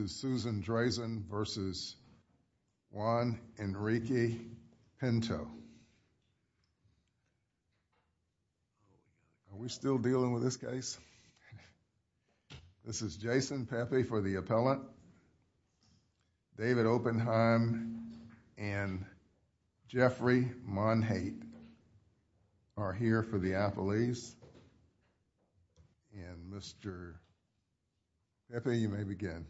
Are we still dealing with this case? This is Jason Pepe for the appellant, David Oppenheim and Jeffrey Monhate are here for the appellees and Mr. Pepe, you may begin.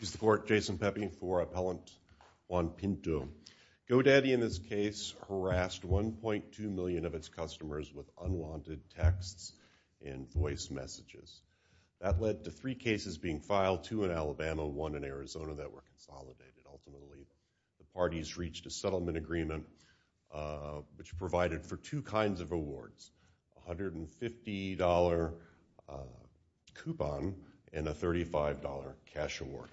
Mr. Court, Jason Pepe for Appellant Juan Pinto. GoDaddy in this case harassed 1.2 million of its customers with unwanted texts and voice messages. That led to three cases being filed, two in Alabama, one in Arizona that were consolidated and ultimately the parties reached a settlement agreement which provided for two kinds of awards, a $150 coupon and a $35 cash award.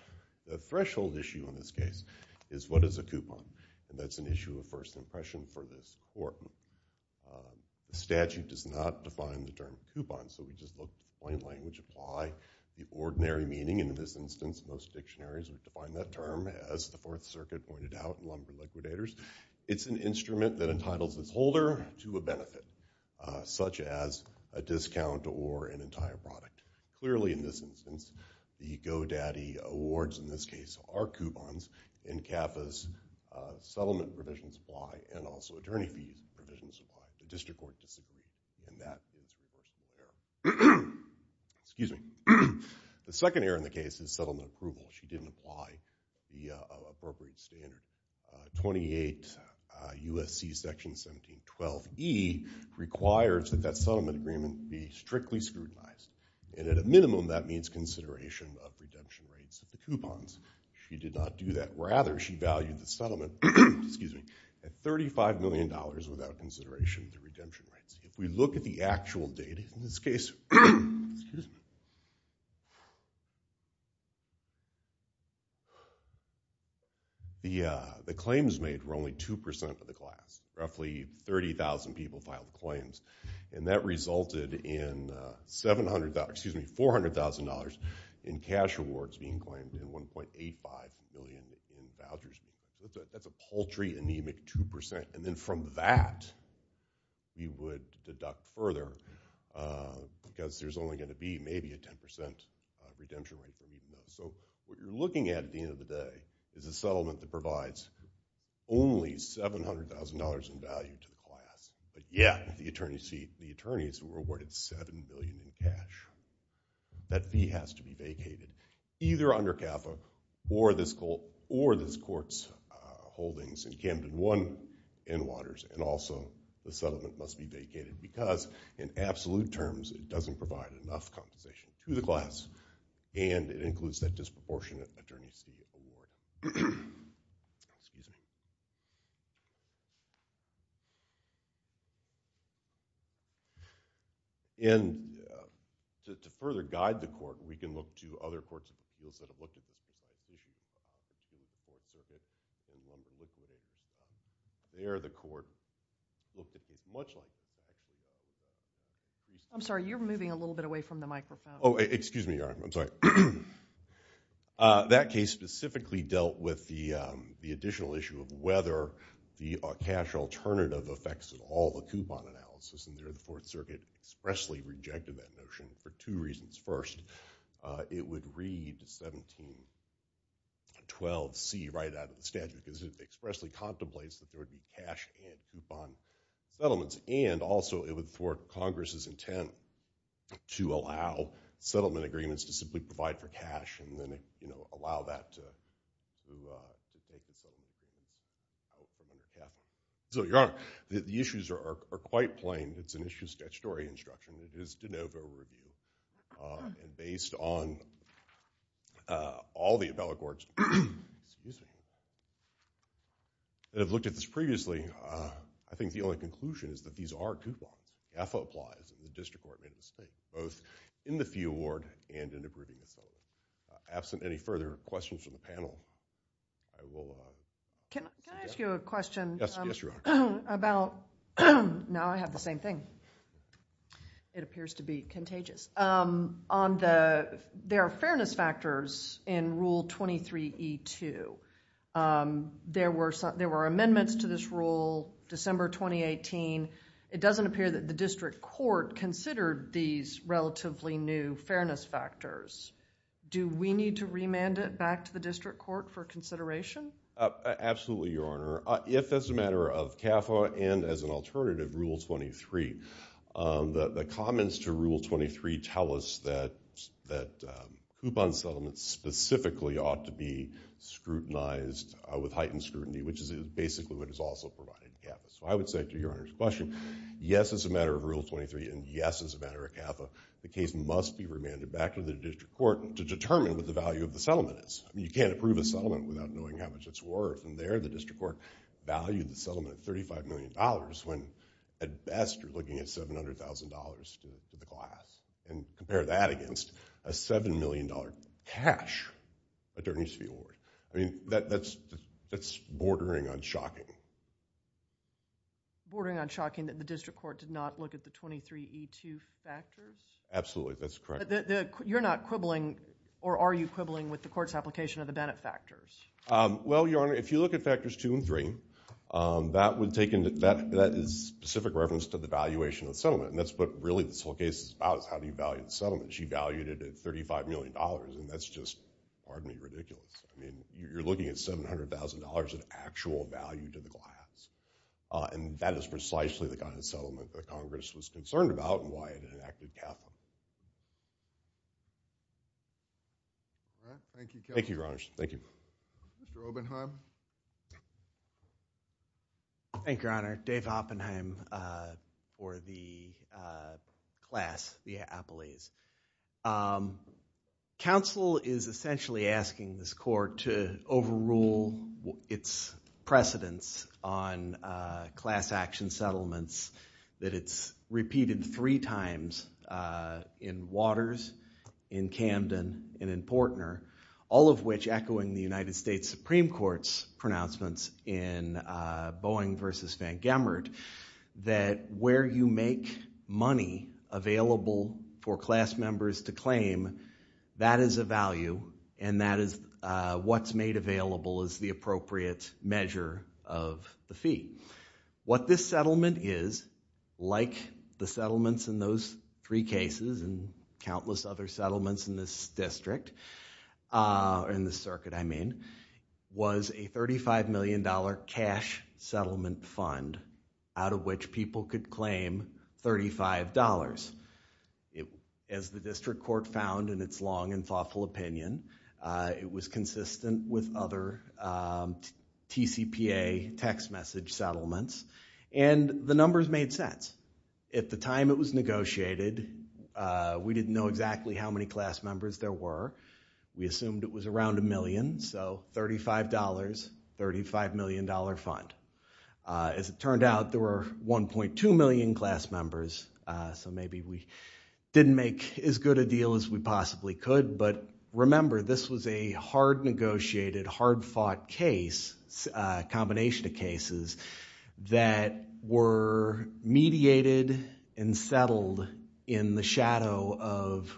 The threshold issue in this case is what is a coupon and that's an issue of first impression for this court. The statute does not define the term coupon, so we just look at the plain language, apply the ordinary meaning and in this instance, most dictionaries define that term as the Fourth Circuit pointed out, lumber liquidators. It's an instrument that entitles its holder to a benefit such as a discount or an entire product. Clearly, in this instance, the GoDaddy awards in this case are coupons in CAFA's settlement provision supply and also attorney fees provision supply, the district court disagreed and that is an instrument of error. The second error in the case is settlement approval. She didn't apply the appropriate standard. 28 U.S.C. section 1712E requires that that settlement agreement be strictly scrutinized and at a minimum, that means consideration of redemption rates of the coupons. She did not do that. Rather, she valued the settlement at $35 million without consideration of the redemption rates. If we look at the actual data in this case, the claims made were only 2% of the class. Roughly 30,000 people filed claims and that resulted in $400,000 in cash awards being claimed and $1.85 million in vouchers. That's a paltry, anemic 2% and then from that, we would deduct further because there's only going to be maybe a 10% redemption rate. So what you're looking at at the end of the day is a settlement that provides only $700,000 in value to the class, but yet the attorneys were awarded $7 million in cash. That fee has to be vacated either under CAFA or this court's holdings in Camden 1 and Waters and also the settlement must be vacated because in absolute terms, it doesn't provide enough compensation to the class and it includes that disproportionate attorney's fee award. Excuse me. And to further guide the court, we can look to other courts that have looked at this issue. There the court looked at this much like this. I'm sorry, you're moving a little bit away from the microphone. Oh, excuse me. I'm sorry. That case specifically dealt with the additional issue of whether the cash alternative affects all the coupon analysis and there the Fourth Circuit expressly rejected that notion for two reasons. First, it would read 1712C right out of the statute because it expressly contemplates that there would be cash and coupon settlements and also it would thwart Congress's intent to allow settlement agreements to simply provide for cash and then allow that to take the settlement agreement out from under CAFA. So, Your Honor, the issues are quite plain. It's an issue of statutory instruction. It is de novo review and based on all the appellate courts that have looked at this previously, I think the only conclusion is that these are coupons. CAFA applies and the district court made a mistake both in the fee award and in the grouping of settlement. Absent any further questions from the panel, I will... Can I ask you a question? Yes, Your Honor. About, now I have the same thing. It appears to be contagious. There are fairness factors in Rule 23E2. There were amendments to this rule December 2018. It doesn't appear that the district court considered these relatively new fairness factors. Do we need to remand it back to the district court for consideration? Absolutely, Your Honor. If as a matter of CAFA and as an alternative Rule 23, the comments to Rule 23 tell us that coupon settlements specifically ought to be scrutinized with heightened scrutiny, which is basically what is also provided in CAFA. So I would say to Your Honor's question, yes, as a matter of Rule 23 and yes, as a matter of CAFA, the case must be remanded back to the district court to determine what the value of the settlement is. You can't approve a settlement without knowing how much it's worth. And there, the district court valued the settlement at $35 million when at best, you're looking at $700,000 to the class. And compare that against a $7 million cash attorney's fee award. I mean, that's bordering on shocking. Bordering on shocking that the district court did not look at the 23E2 factors? Absolutely, that's correct. You're not quibbling or are you quibbling with the court's application of the Bennett factors? Well, Your Honor, if you look at factors two and three, that is specific reference to the valuation of the settlement. And that's what really this whole case is about is how do you value the settlement. She valued it at $35 million, and that's just, pardon me, ridiculous. I mean, you're looking at $700,000 in actual value to the class. And that is precisely the kind of settlement that Congress was concerned about and why it enacted CAFA. Thank you, Your Honor. Thank you. Mr. Oppenheim? Thank you, Your Honor. Dave Oppenheim for the class, the appellees. Counsel is essentially asking this court to overrule its precedence on class action settlements, that it's repeated three times in Waters, in Camden, and in Portner, all of which echoing the United States Supreme Court's pronouncements in Boeing v. Van Gemert, that where you make money available for class members to claim, that is a value, and that is what's made available as the appropriate measure of the fee. What this settlement is, like the settlements in those three cases and countless other settlements in this district, or in this circuit, I mean, was a $35 million cash settlement fund out of which people could claim $35. As the district court found in its long and thoughtful opinion, it was consistent with other TCPA text message settlements, and the numbers made sense. At the time it was negotiated, we didn't know exactly how many class members there were. We assumed it was around a million, so $35, $35 million fund. As it turned out, there were 1.2 million class members, so maybe we didn't make as good a deal as we possibly could. But remember, this was a hard-negotiated, hard-fought case, combination of cases, that were mediated and settled in the shadow of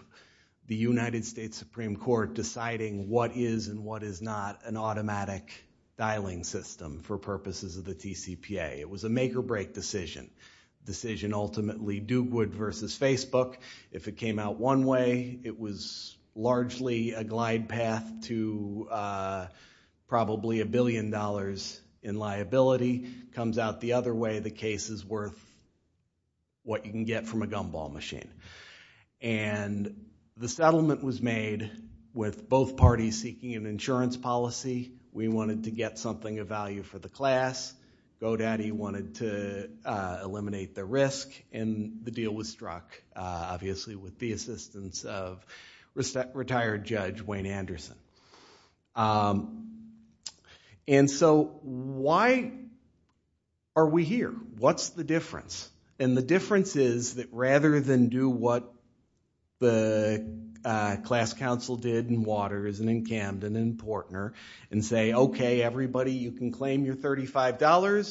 the United States Supreme Court deciding what is and what is not an automatic dialing system for purposes of the TCPA. It was a make-or-break decision, decision ultimately Dugwood versus Facebook. If it came out one way, it was largely a glide path to probably a billion dollars in liability. Comes out the other way, the case is worth what you can get from a gumball machine. And the settlement was made with both parties seeking an insurance policy. We wanted to get something of value for the class. GoDaddy wanted to eliminate the risk, and the deal was struck, obviously, with the assistance of retired judge Wayne Anderson. And so why are we here? What's the difference? And the difference is that rather than do what the class council did in Waters and in Camden and in Portner, and say, okay, everybody, you can claim your $35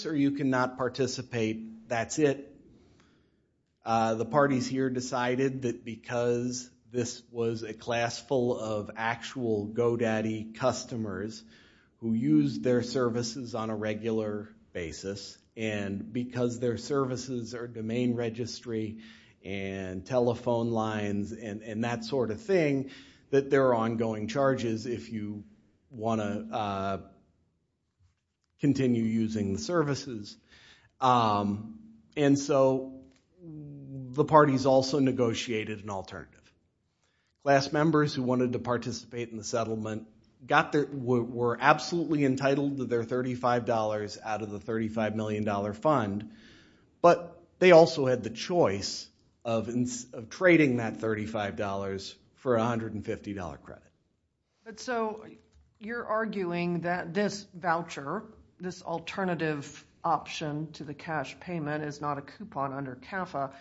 or you cannot participate, that's it. The parties here decided that because this was a class full of actual GoDaddy customers who used their services on a regular basis, and because their services are domain registry and telephone lines and that sort of thing, that there are ongoing charges if you want to continue using the services. And so the parties also negotiated an alternative. Class members who wanted to participate in the settlement were absolutely entitled to their $35 out of the $35 million fund, but they also had the choice of trading that $35 for a $150 credit. But so you're arguing that this voucher, this alternative option to the cash payment, is not a coupon under CAFA.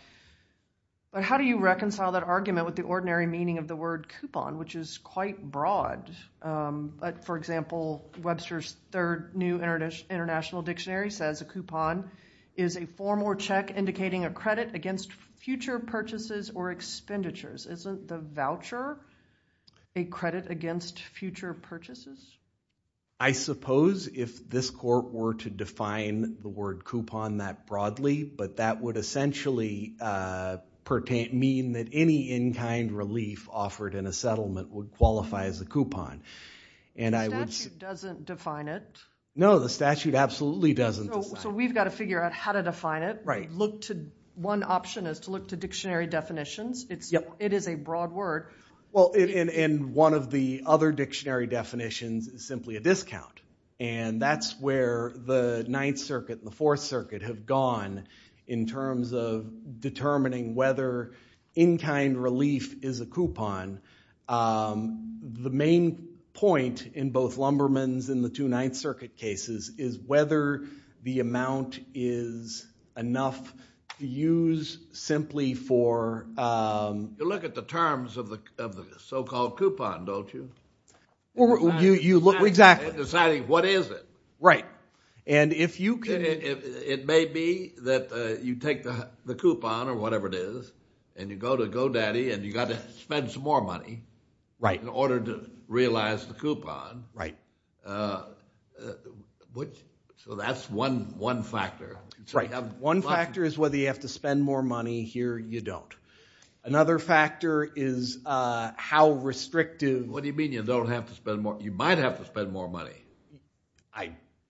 But how do you reconcile that argument with the ordinary meaning of the word coupon, which is quite broad? For example, Webster's Third New International Dictionary says a coupon is a form or check indicating a credit against future purchases or expenditures. Isn't the voucher a credit against future purchases? I suppose if this court were to define the word coupon that broadly, but that would essentially mean that any in-kind relief offered in a settlement would qualify as a coupon. The statute doesn't define it. No, the statute absolutely doesn't. So we've got to figure out how to define it. Right. One option is to look to dictionary definitions. It is a broad word. Well, and one of the other dictionary definitions is simply a discount, and that's where the Ninth Circuit and the Fourth Circuit have gone in terms of determining whether in-kind relief is a coupon. The main point in both Lumberman's and the two Ninth Circuit cases is whether the amount is enough to use simply for... You look at the terms of the so-called coupon, don't you? Deciding what is it. Right, and if you can... It may be that you take the coupon or whatever it is and you go to GoDaddy and you've got to spend some more money in order to realize the coupon. Right. So that's one factor. Right, one factor is whether you have to spend more money. Another factor is how restrictive... What do you mean you don't have to spend more? You might have to spend more money.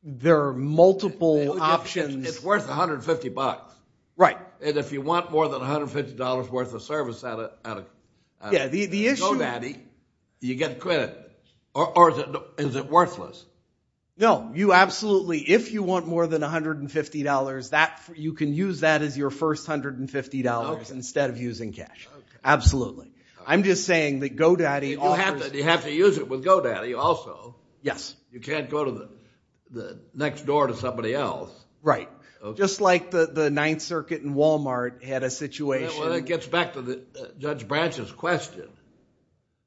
There are multiple options. It's worth $150. Right. And if you want more than $150 worth of service out of GoDaddy, you get credit. Or is it worthless? No, you absolutely, if you want more than $150, you can use that as your first $150 instead of using cash. Absolutely. I'm just saying that GoDaddy offers... You have to use it with GoDaddy also. Yes. You can't go to the next door to somebody else. Right. Just like the Ninth Circuit and Walmart had a situation... Well, that gets back to Judge Branch's question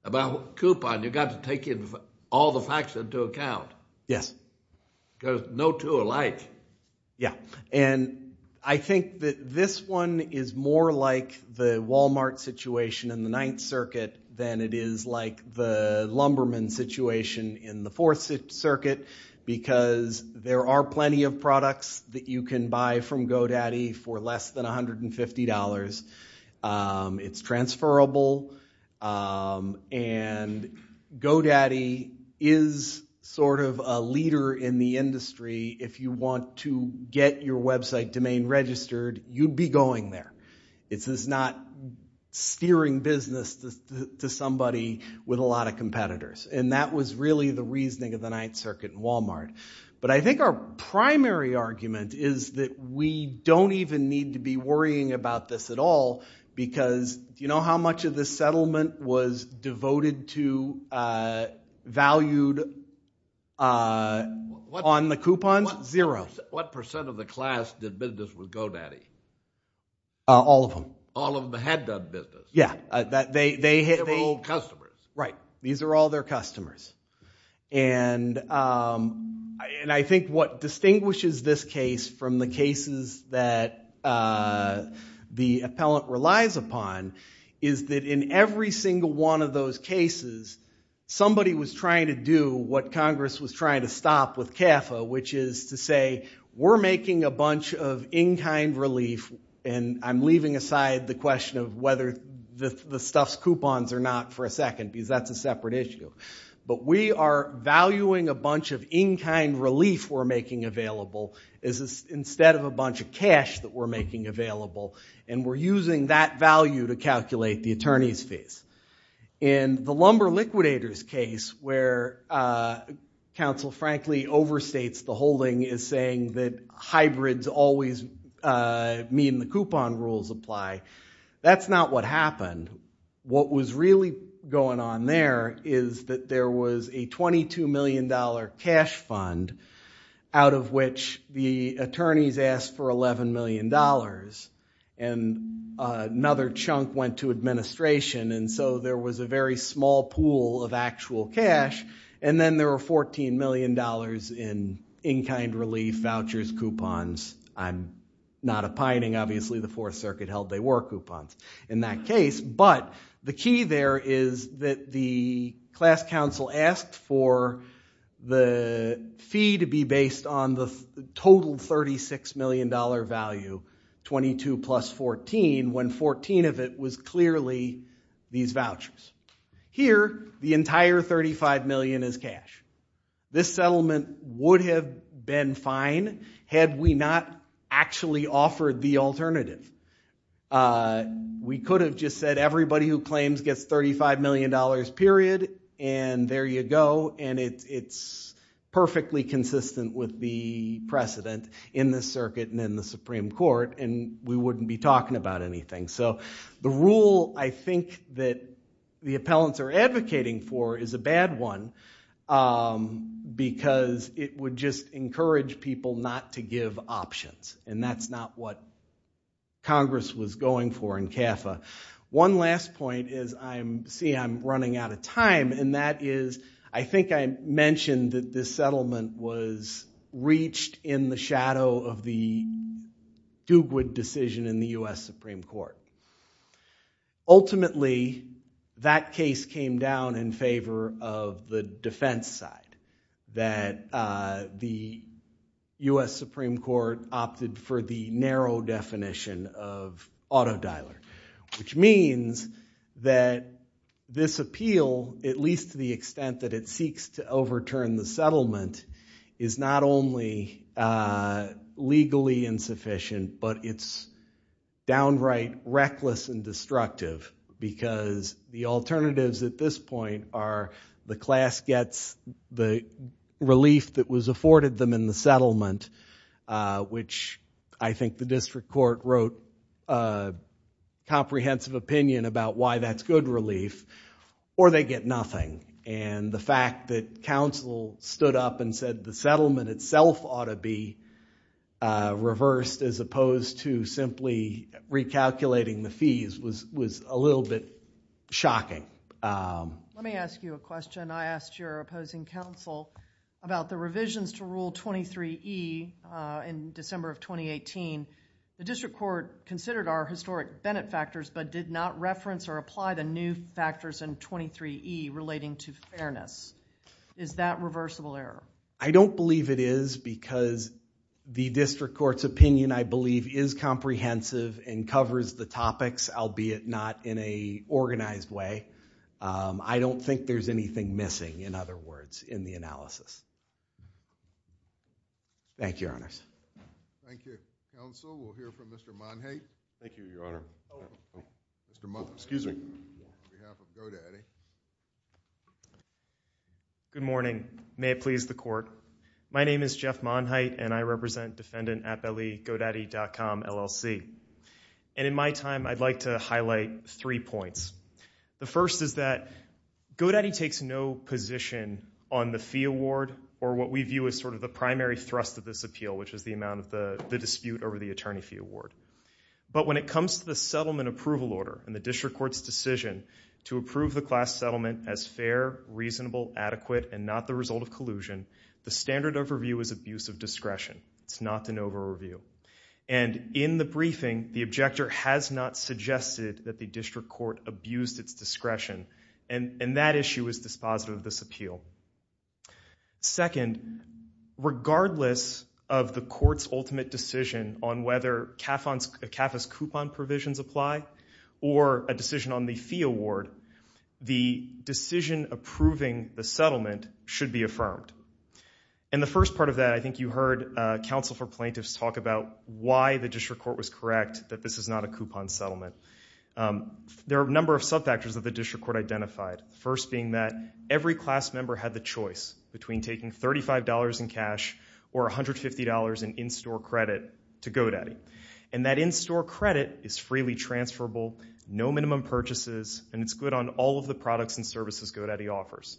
about coupon. You've got to take all the facts into account. Yes. Because no two are alike. I think that this one is more like the Walmart situation in the Ninth Circuit than it is like the lumberman situation in the Fourth Circuit because there are plenty of products that you can buy from GoDaddy for less than $150. It's transferable. And GoDaddy is sort of a leader in the industry. If you want to get your website domain registered, you'd be going there. It's not steering business to somebody with a lot of competitors. And that was really the reasoning of the Ninth Circuit and Walmart. But I think our primary argument is that we don't even need to be worrying about this at all because do you know how much of this settlement was devoted to, valued on the coupons? Zero. What percent of the class did business with GoDaddy? All of them. All of them had done business. Yeah. They were all customers. Right. These are all their customers. And I think what distinguishes this case from the cases that the appellant relies upon is that in every single one of those cases, somebody was trying to do what Congress was trying to stop with CAFA, which is to say we're making a bunch of in-kind relief and I'm leaving aside the question of whether the stuff's coupons or not for a second because that's a separate issue. But we are valuing a bunch of in-kind relief we're making available instead of a bunch of cash that we're making available, and we're using that value to calculate the attorney's fees. In the Lumber Liquidators case where counsel frankly overstates the holding and is saying that hybrids always mean the coupon rules apply, that's not what happened. What was really going on there is that there was a $22 million cash fund out of which the attorneys asked for $11 million, and another chunk went to administration, and so there was a very small pool of actual cash, and then there were $14 million in in-kind relief, vouchers, coupons. I'm not opining. Obviously the Fourth Circuit held they were coupons in that case, but the key there is that the class counsel asked for the fee to be based on the total $36 million value, 22 plus 14, when 14 of it was clearly these vouchers. Here the entire $35 million is cash. This settlement would have been fine had we not actually offered the alternative. We could have just said everybody who claims gets $35 million period, and there you go, and it's perfectly consistent with the precedent in this circuit and in the Supreme Court, and we wouldn't be talking about anything. So the rule I think that the appellants are advocating for is a bad one because it would just encourage people not to give options, and that's not what Congress was going for in CAFA. One last point is I'm running out of time, and that is I think I mentioned that this settlement was reached in the shadow of the Dugwood decision in the U.S. Supreme Court. Ultimately that case came down in favor of the defense side, that the U.S. Supreme Court opted for the narrow definition of auto dialer, which means that this appeal, at least to the extent that it seeks to overturn the settlement, is not only legally insufficient, but it's downright reckless and destructive because the alternatives at this point are the class gets the relief that was afforded them in the settlement, which I think the district court wrote a comprehensive opinion about why that's good relief, or they get nothing. And the fact that counsel stood up and said the settlement itself ought to be reversed as opposed to simply recalculating the fees was a little bit shocking. Let me ask you a question. I asked your opposing counsel about the revisions to Rule 23E in December of 2018. The district court considered our historic Bennett factors, but did not reference or apply the new factors in 23E relating to fairness. Is that reversible error? I don't believe it is because the district court's opinion, I believe, is comprehensive and covers the topics, albeit not in a organized way. I don't think there's anything missing, in other words, in the analysis. Thank you, Your Honors. Thank you. Counsel, we'll hear from Mr. Monheit. Thank you, Your Honor. Mr. Monheit. Excuse me. On behalf of GoDaddy. Good morning. May it please the court. My name is Jeff Monheit, and I represent defendant at GoDaddy.com LLC. And in my time, I'd like to highlight three points. The first is that GoDaddy takes no position on the fee award or what we view as sort of the primary thrust of this appeal, which is the amount of the dispute over the attorney fee award. But when it comes to the settlement approval order and the district court's decision to approve the class settlement as fair, reasonable, adequate, and not the result of collusion, the standard overview is abuse of discretion. It's not an overview. And in the briefing, the objector has not suggested that the district court abused its discretion, and that issue is dispositive of this appeal. Second, regardless of the court's ultimate decision on whether CAFA's coupon provisions apply or a decision on the fee award, the decision approving the settlement should be affirmed. In the first part of that, I think you heard counsel for plaintiffs talk about why the district court was correct that this is not a coupon settlement. There are a number of sub-factors that the district court identified, the first being that every class member had the choice between taking $35 in cash or $150 in in-store credit to GoDaddy. And that in-store credit is freely transferable, no minimum purchases, and it's good on all of the products and services GoDaddy offers.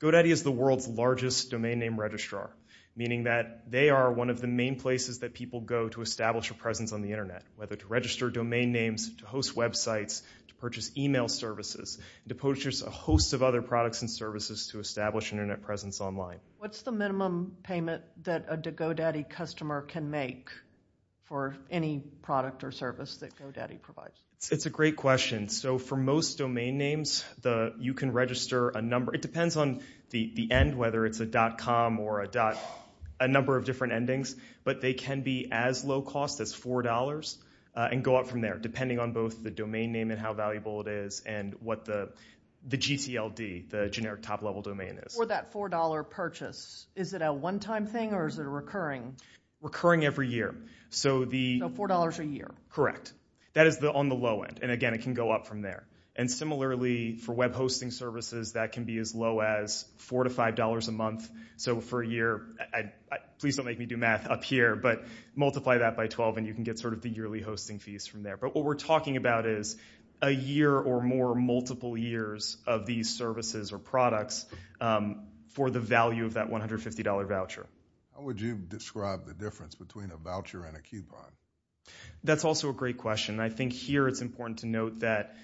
GoDaddy is the world's largest domain name registrar, meaning that they are one of the main places that people go to establish a presence on the internet, whether to register domain names, to host websites, to purchase email services, to purchase a host of other products and services to establish an internet presence online. What's the minimum payment that a GoDaddy customer can make for any product or service that GoDaddy provides? It's a great question. So for most domain names, you can register a number... It depends on the end, whether it's a .com or a... a number of different endings, but they can be as low-cost as $4 and go up from there, depending on both the domain name and how valuable it is and what the GCLD, the generic top-level domain, is. For that $4 purchase, is it a one-time thing or is it a recurring? Recurring every year. So $4 a year. Correct. That is on the low end, and again, it can go up from there. And similarly, for web hosting services, that can be as low as $4 to $5 a month. So for a year... Please don't make me do math up here, but multiply that by 12 and you can get sort of the yearly hosting fees from there. But what we're talking about is a year or more, multiple years of these services or products for the value of that $150 voucher. How would you describe the difference between a voucher and a coupon? That's also a great question. I think here it's important to note that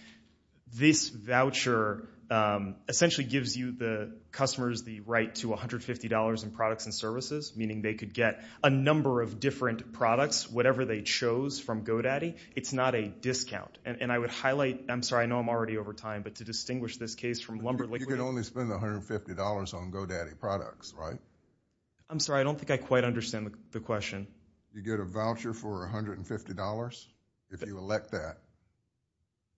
this voucher essentially gives you, the customers, the right to $150 in products and services, meaning they could get a number of different products, whatever they chose from GoDaddy. It's not a discount, and I would highlight... I'm sorry, I know I'm already over time, but to distinguish this case from Lumber Liquid... You can only spend $150 on GoDaddy products, right? I'm sorry, I don't think I quite understand the question. You get a voucher for $150 if you elect that.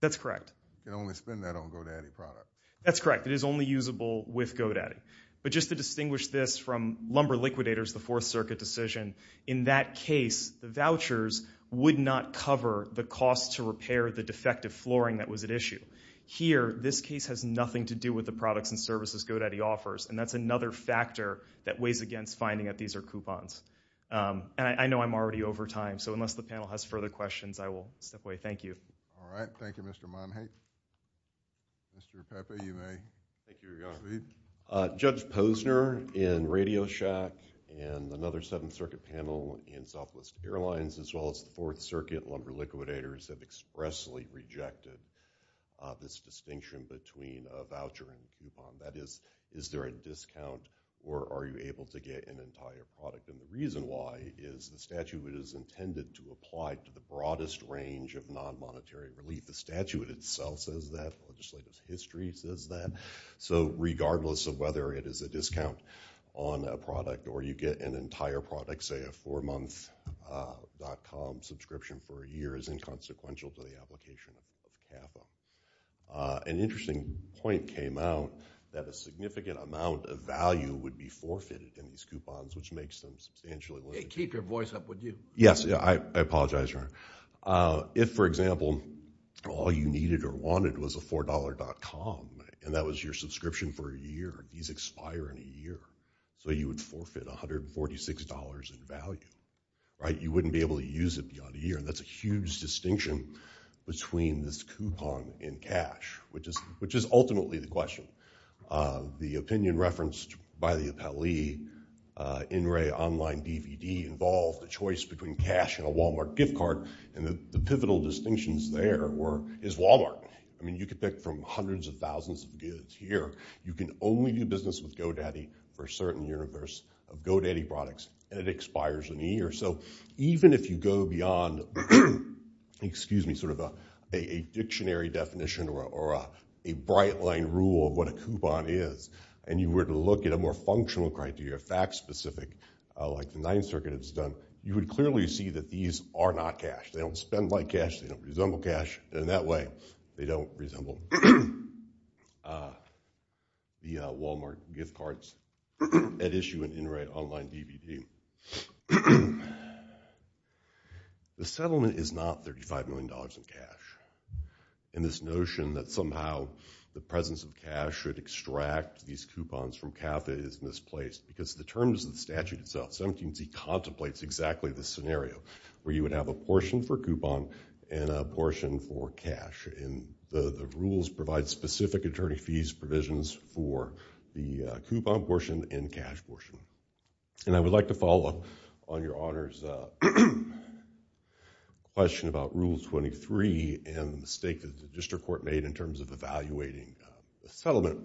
That's correct. You can only spend that on GoDaddy products. That's correct. It is only usable with GoDaddy. But just to distinguish this from Lumber Liquidator's, the Fourth Circuit decision, in that case, the vouchers would not cover the cost to repair the defective flooring that was at issue. Here, this case has nothing to do with the products and services GoDaddy offers, and that's another factor that weighs against finding that these are coupons. And I know I'm already over time, so unless the panel has further questions, I will step away. Thank you. All right. Thank you, Mr. Monhage. Mr. Pepe, you may proceed. Thank you, Your Honor. Judge Posner in Radio Shack and another Seventh Circuit panel in Southwest Airlines, as well as the Fourth Circuit Lumber Liquidators, have expressly rejected this distinction between a voucher and a coupon. That is, is there a discount, or are you able to get an entire product? And the reason why is the statute is intended to apply to the broadest range of non-monetary relief. The statute itself says that. Legislative history says that. So regardless of whether it is a discount on a product or you get an entire product, say a four-month.com subscription for a year, is inconsequential to the application of CAFA. An interesting point came out that a significant amount of value would be forfeited in these coupons, which makes them substantially... Hey, keep your voice up, would you? Yes, I apologize, Your Honor. If, for example, all you needed or wanted was a $4.com, and that was your subscription for a year, these expire in a year, so you would forfeit $146 in value, right? You wouldn't be able to use it beyond a year, and that's a huge distinction between this coupon and cash, which is ultimately the question. The opinion referenced by the appellee in Ray Online DVD involved a choice between cash and a Walmart gift card, and the pivotal distinctions there were, is Walmart. I mean, you could pick from hundreds of thousands of goods here. You can only do business with GoDaddy for a certain universe of GoDaddy products, and it expires in a year. So even if you go beyond, excuse me, sort of a dictionary definition or a bright-line rule of what a coupon is, and you were to look at a more functional criteria, fact-specific, like the Ninth Circuit has done, you would clearly see that these are not cash. They don't spend like cash. They don't resemble cash in that way. They don't resemble the Walmart gift cards at issue in In Ray Online DVD. The settlement is not $35 million in cash, and this notion that somehow the presence of cash should extract these coupons from CAFA is misplaced, because the terms of the statute itself, 17c contemplates exactly this scenario, where you would have a portion for coupon and a portion for cash, and the rules provide specific attorney fees, provisions for the coupon portion and cash portion. And I would like to follow up on Your Honor's question about Rule 23 and the mistake that the district court made in terms of evaluating the settlement.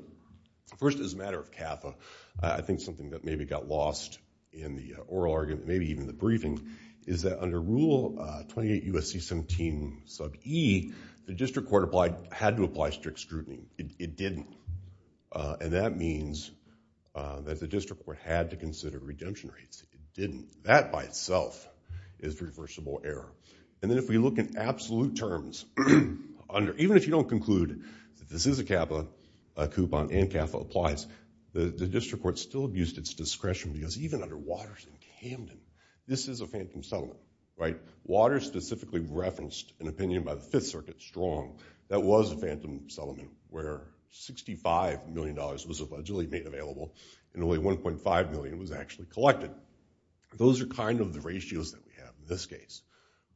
First, as a matter of CAFA, I think something that maybe got lost in the oral argument, maybe even the briefing, is that under Rule 28 U.S.C. 17 sub e, the district court had to apply strict scrutiny. It didn't. And that means that the district court had to consider redemption rates. It didn't. That by itself is reversible error. And then if we look in absolute terms, even if you don't conclude that this is a CAFA coupon and CAFA applies, the district court still abused its discretion, because even under Waters and Camden, this is a phantom settlement, right? Waters specifically referenced an opinion by the Fifth Circuit strong that was a phantom settlement where $65 million was allegedly made available and only $1.5 million was actually collected. Those are kind of the ratios that we have in this case,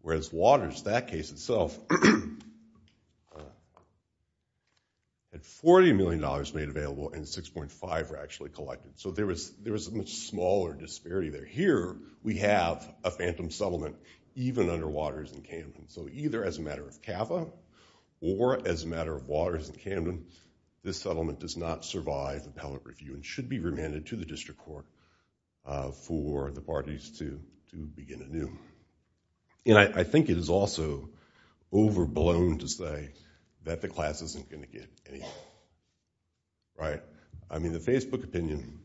whereas Waters, that case itself, had $40 million made available and 6.5 were actually collected. So there was a much smaller disparity there. Here we have a phantom settlement even under Waters and Camden. So either as a matter of CAFA or as a matter of Waters and Camden, this settlement does not survive appellate review and should be remanded to the district court for the parties to begin anew. And I think it is also overblown to say that the class isn't going to get anything, right? I mean, the Facebook opinion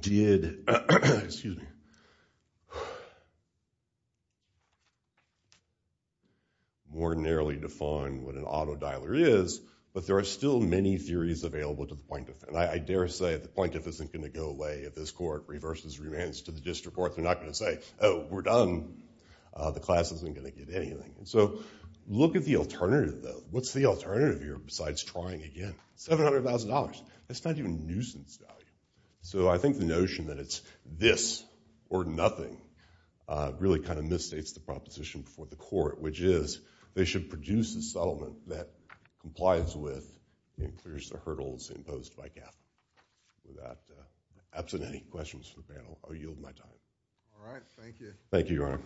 did... Excuse me. ...more narrowly define what an auto-dialer is, but there are still many theories available to the plaintiff. And I dare say the plaintiff isn't going to go away if this court reverses remands to the district court. They're not going to say, oh, we're done, the class isn't going to get anything. So look at the alternative, though. What's the alternative here besides trying again? $700,000. That's not even nuisance value. So I think the notion that it's this or nothing really kind of misstates the proposition before the court, which is they should produce a settlement that complies with and clears the hurdles imposed by Catholic. Without absent any questions for the panel, I'll yield my time. All right. Thank you. Thank you, Your Honor.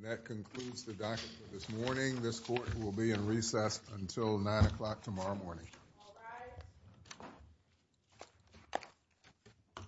And that concludes the document for this morning. This court will be in recess until 9 o'clock tomorrow morning. All rise.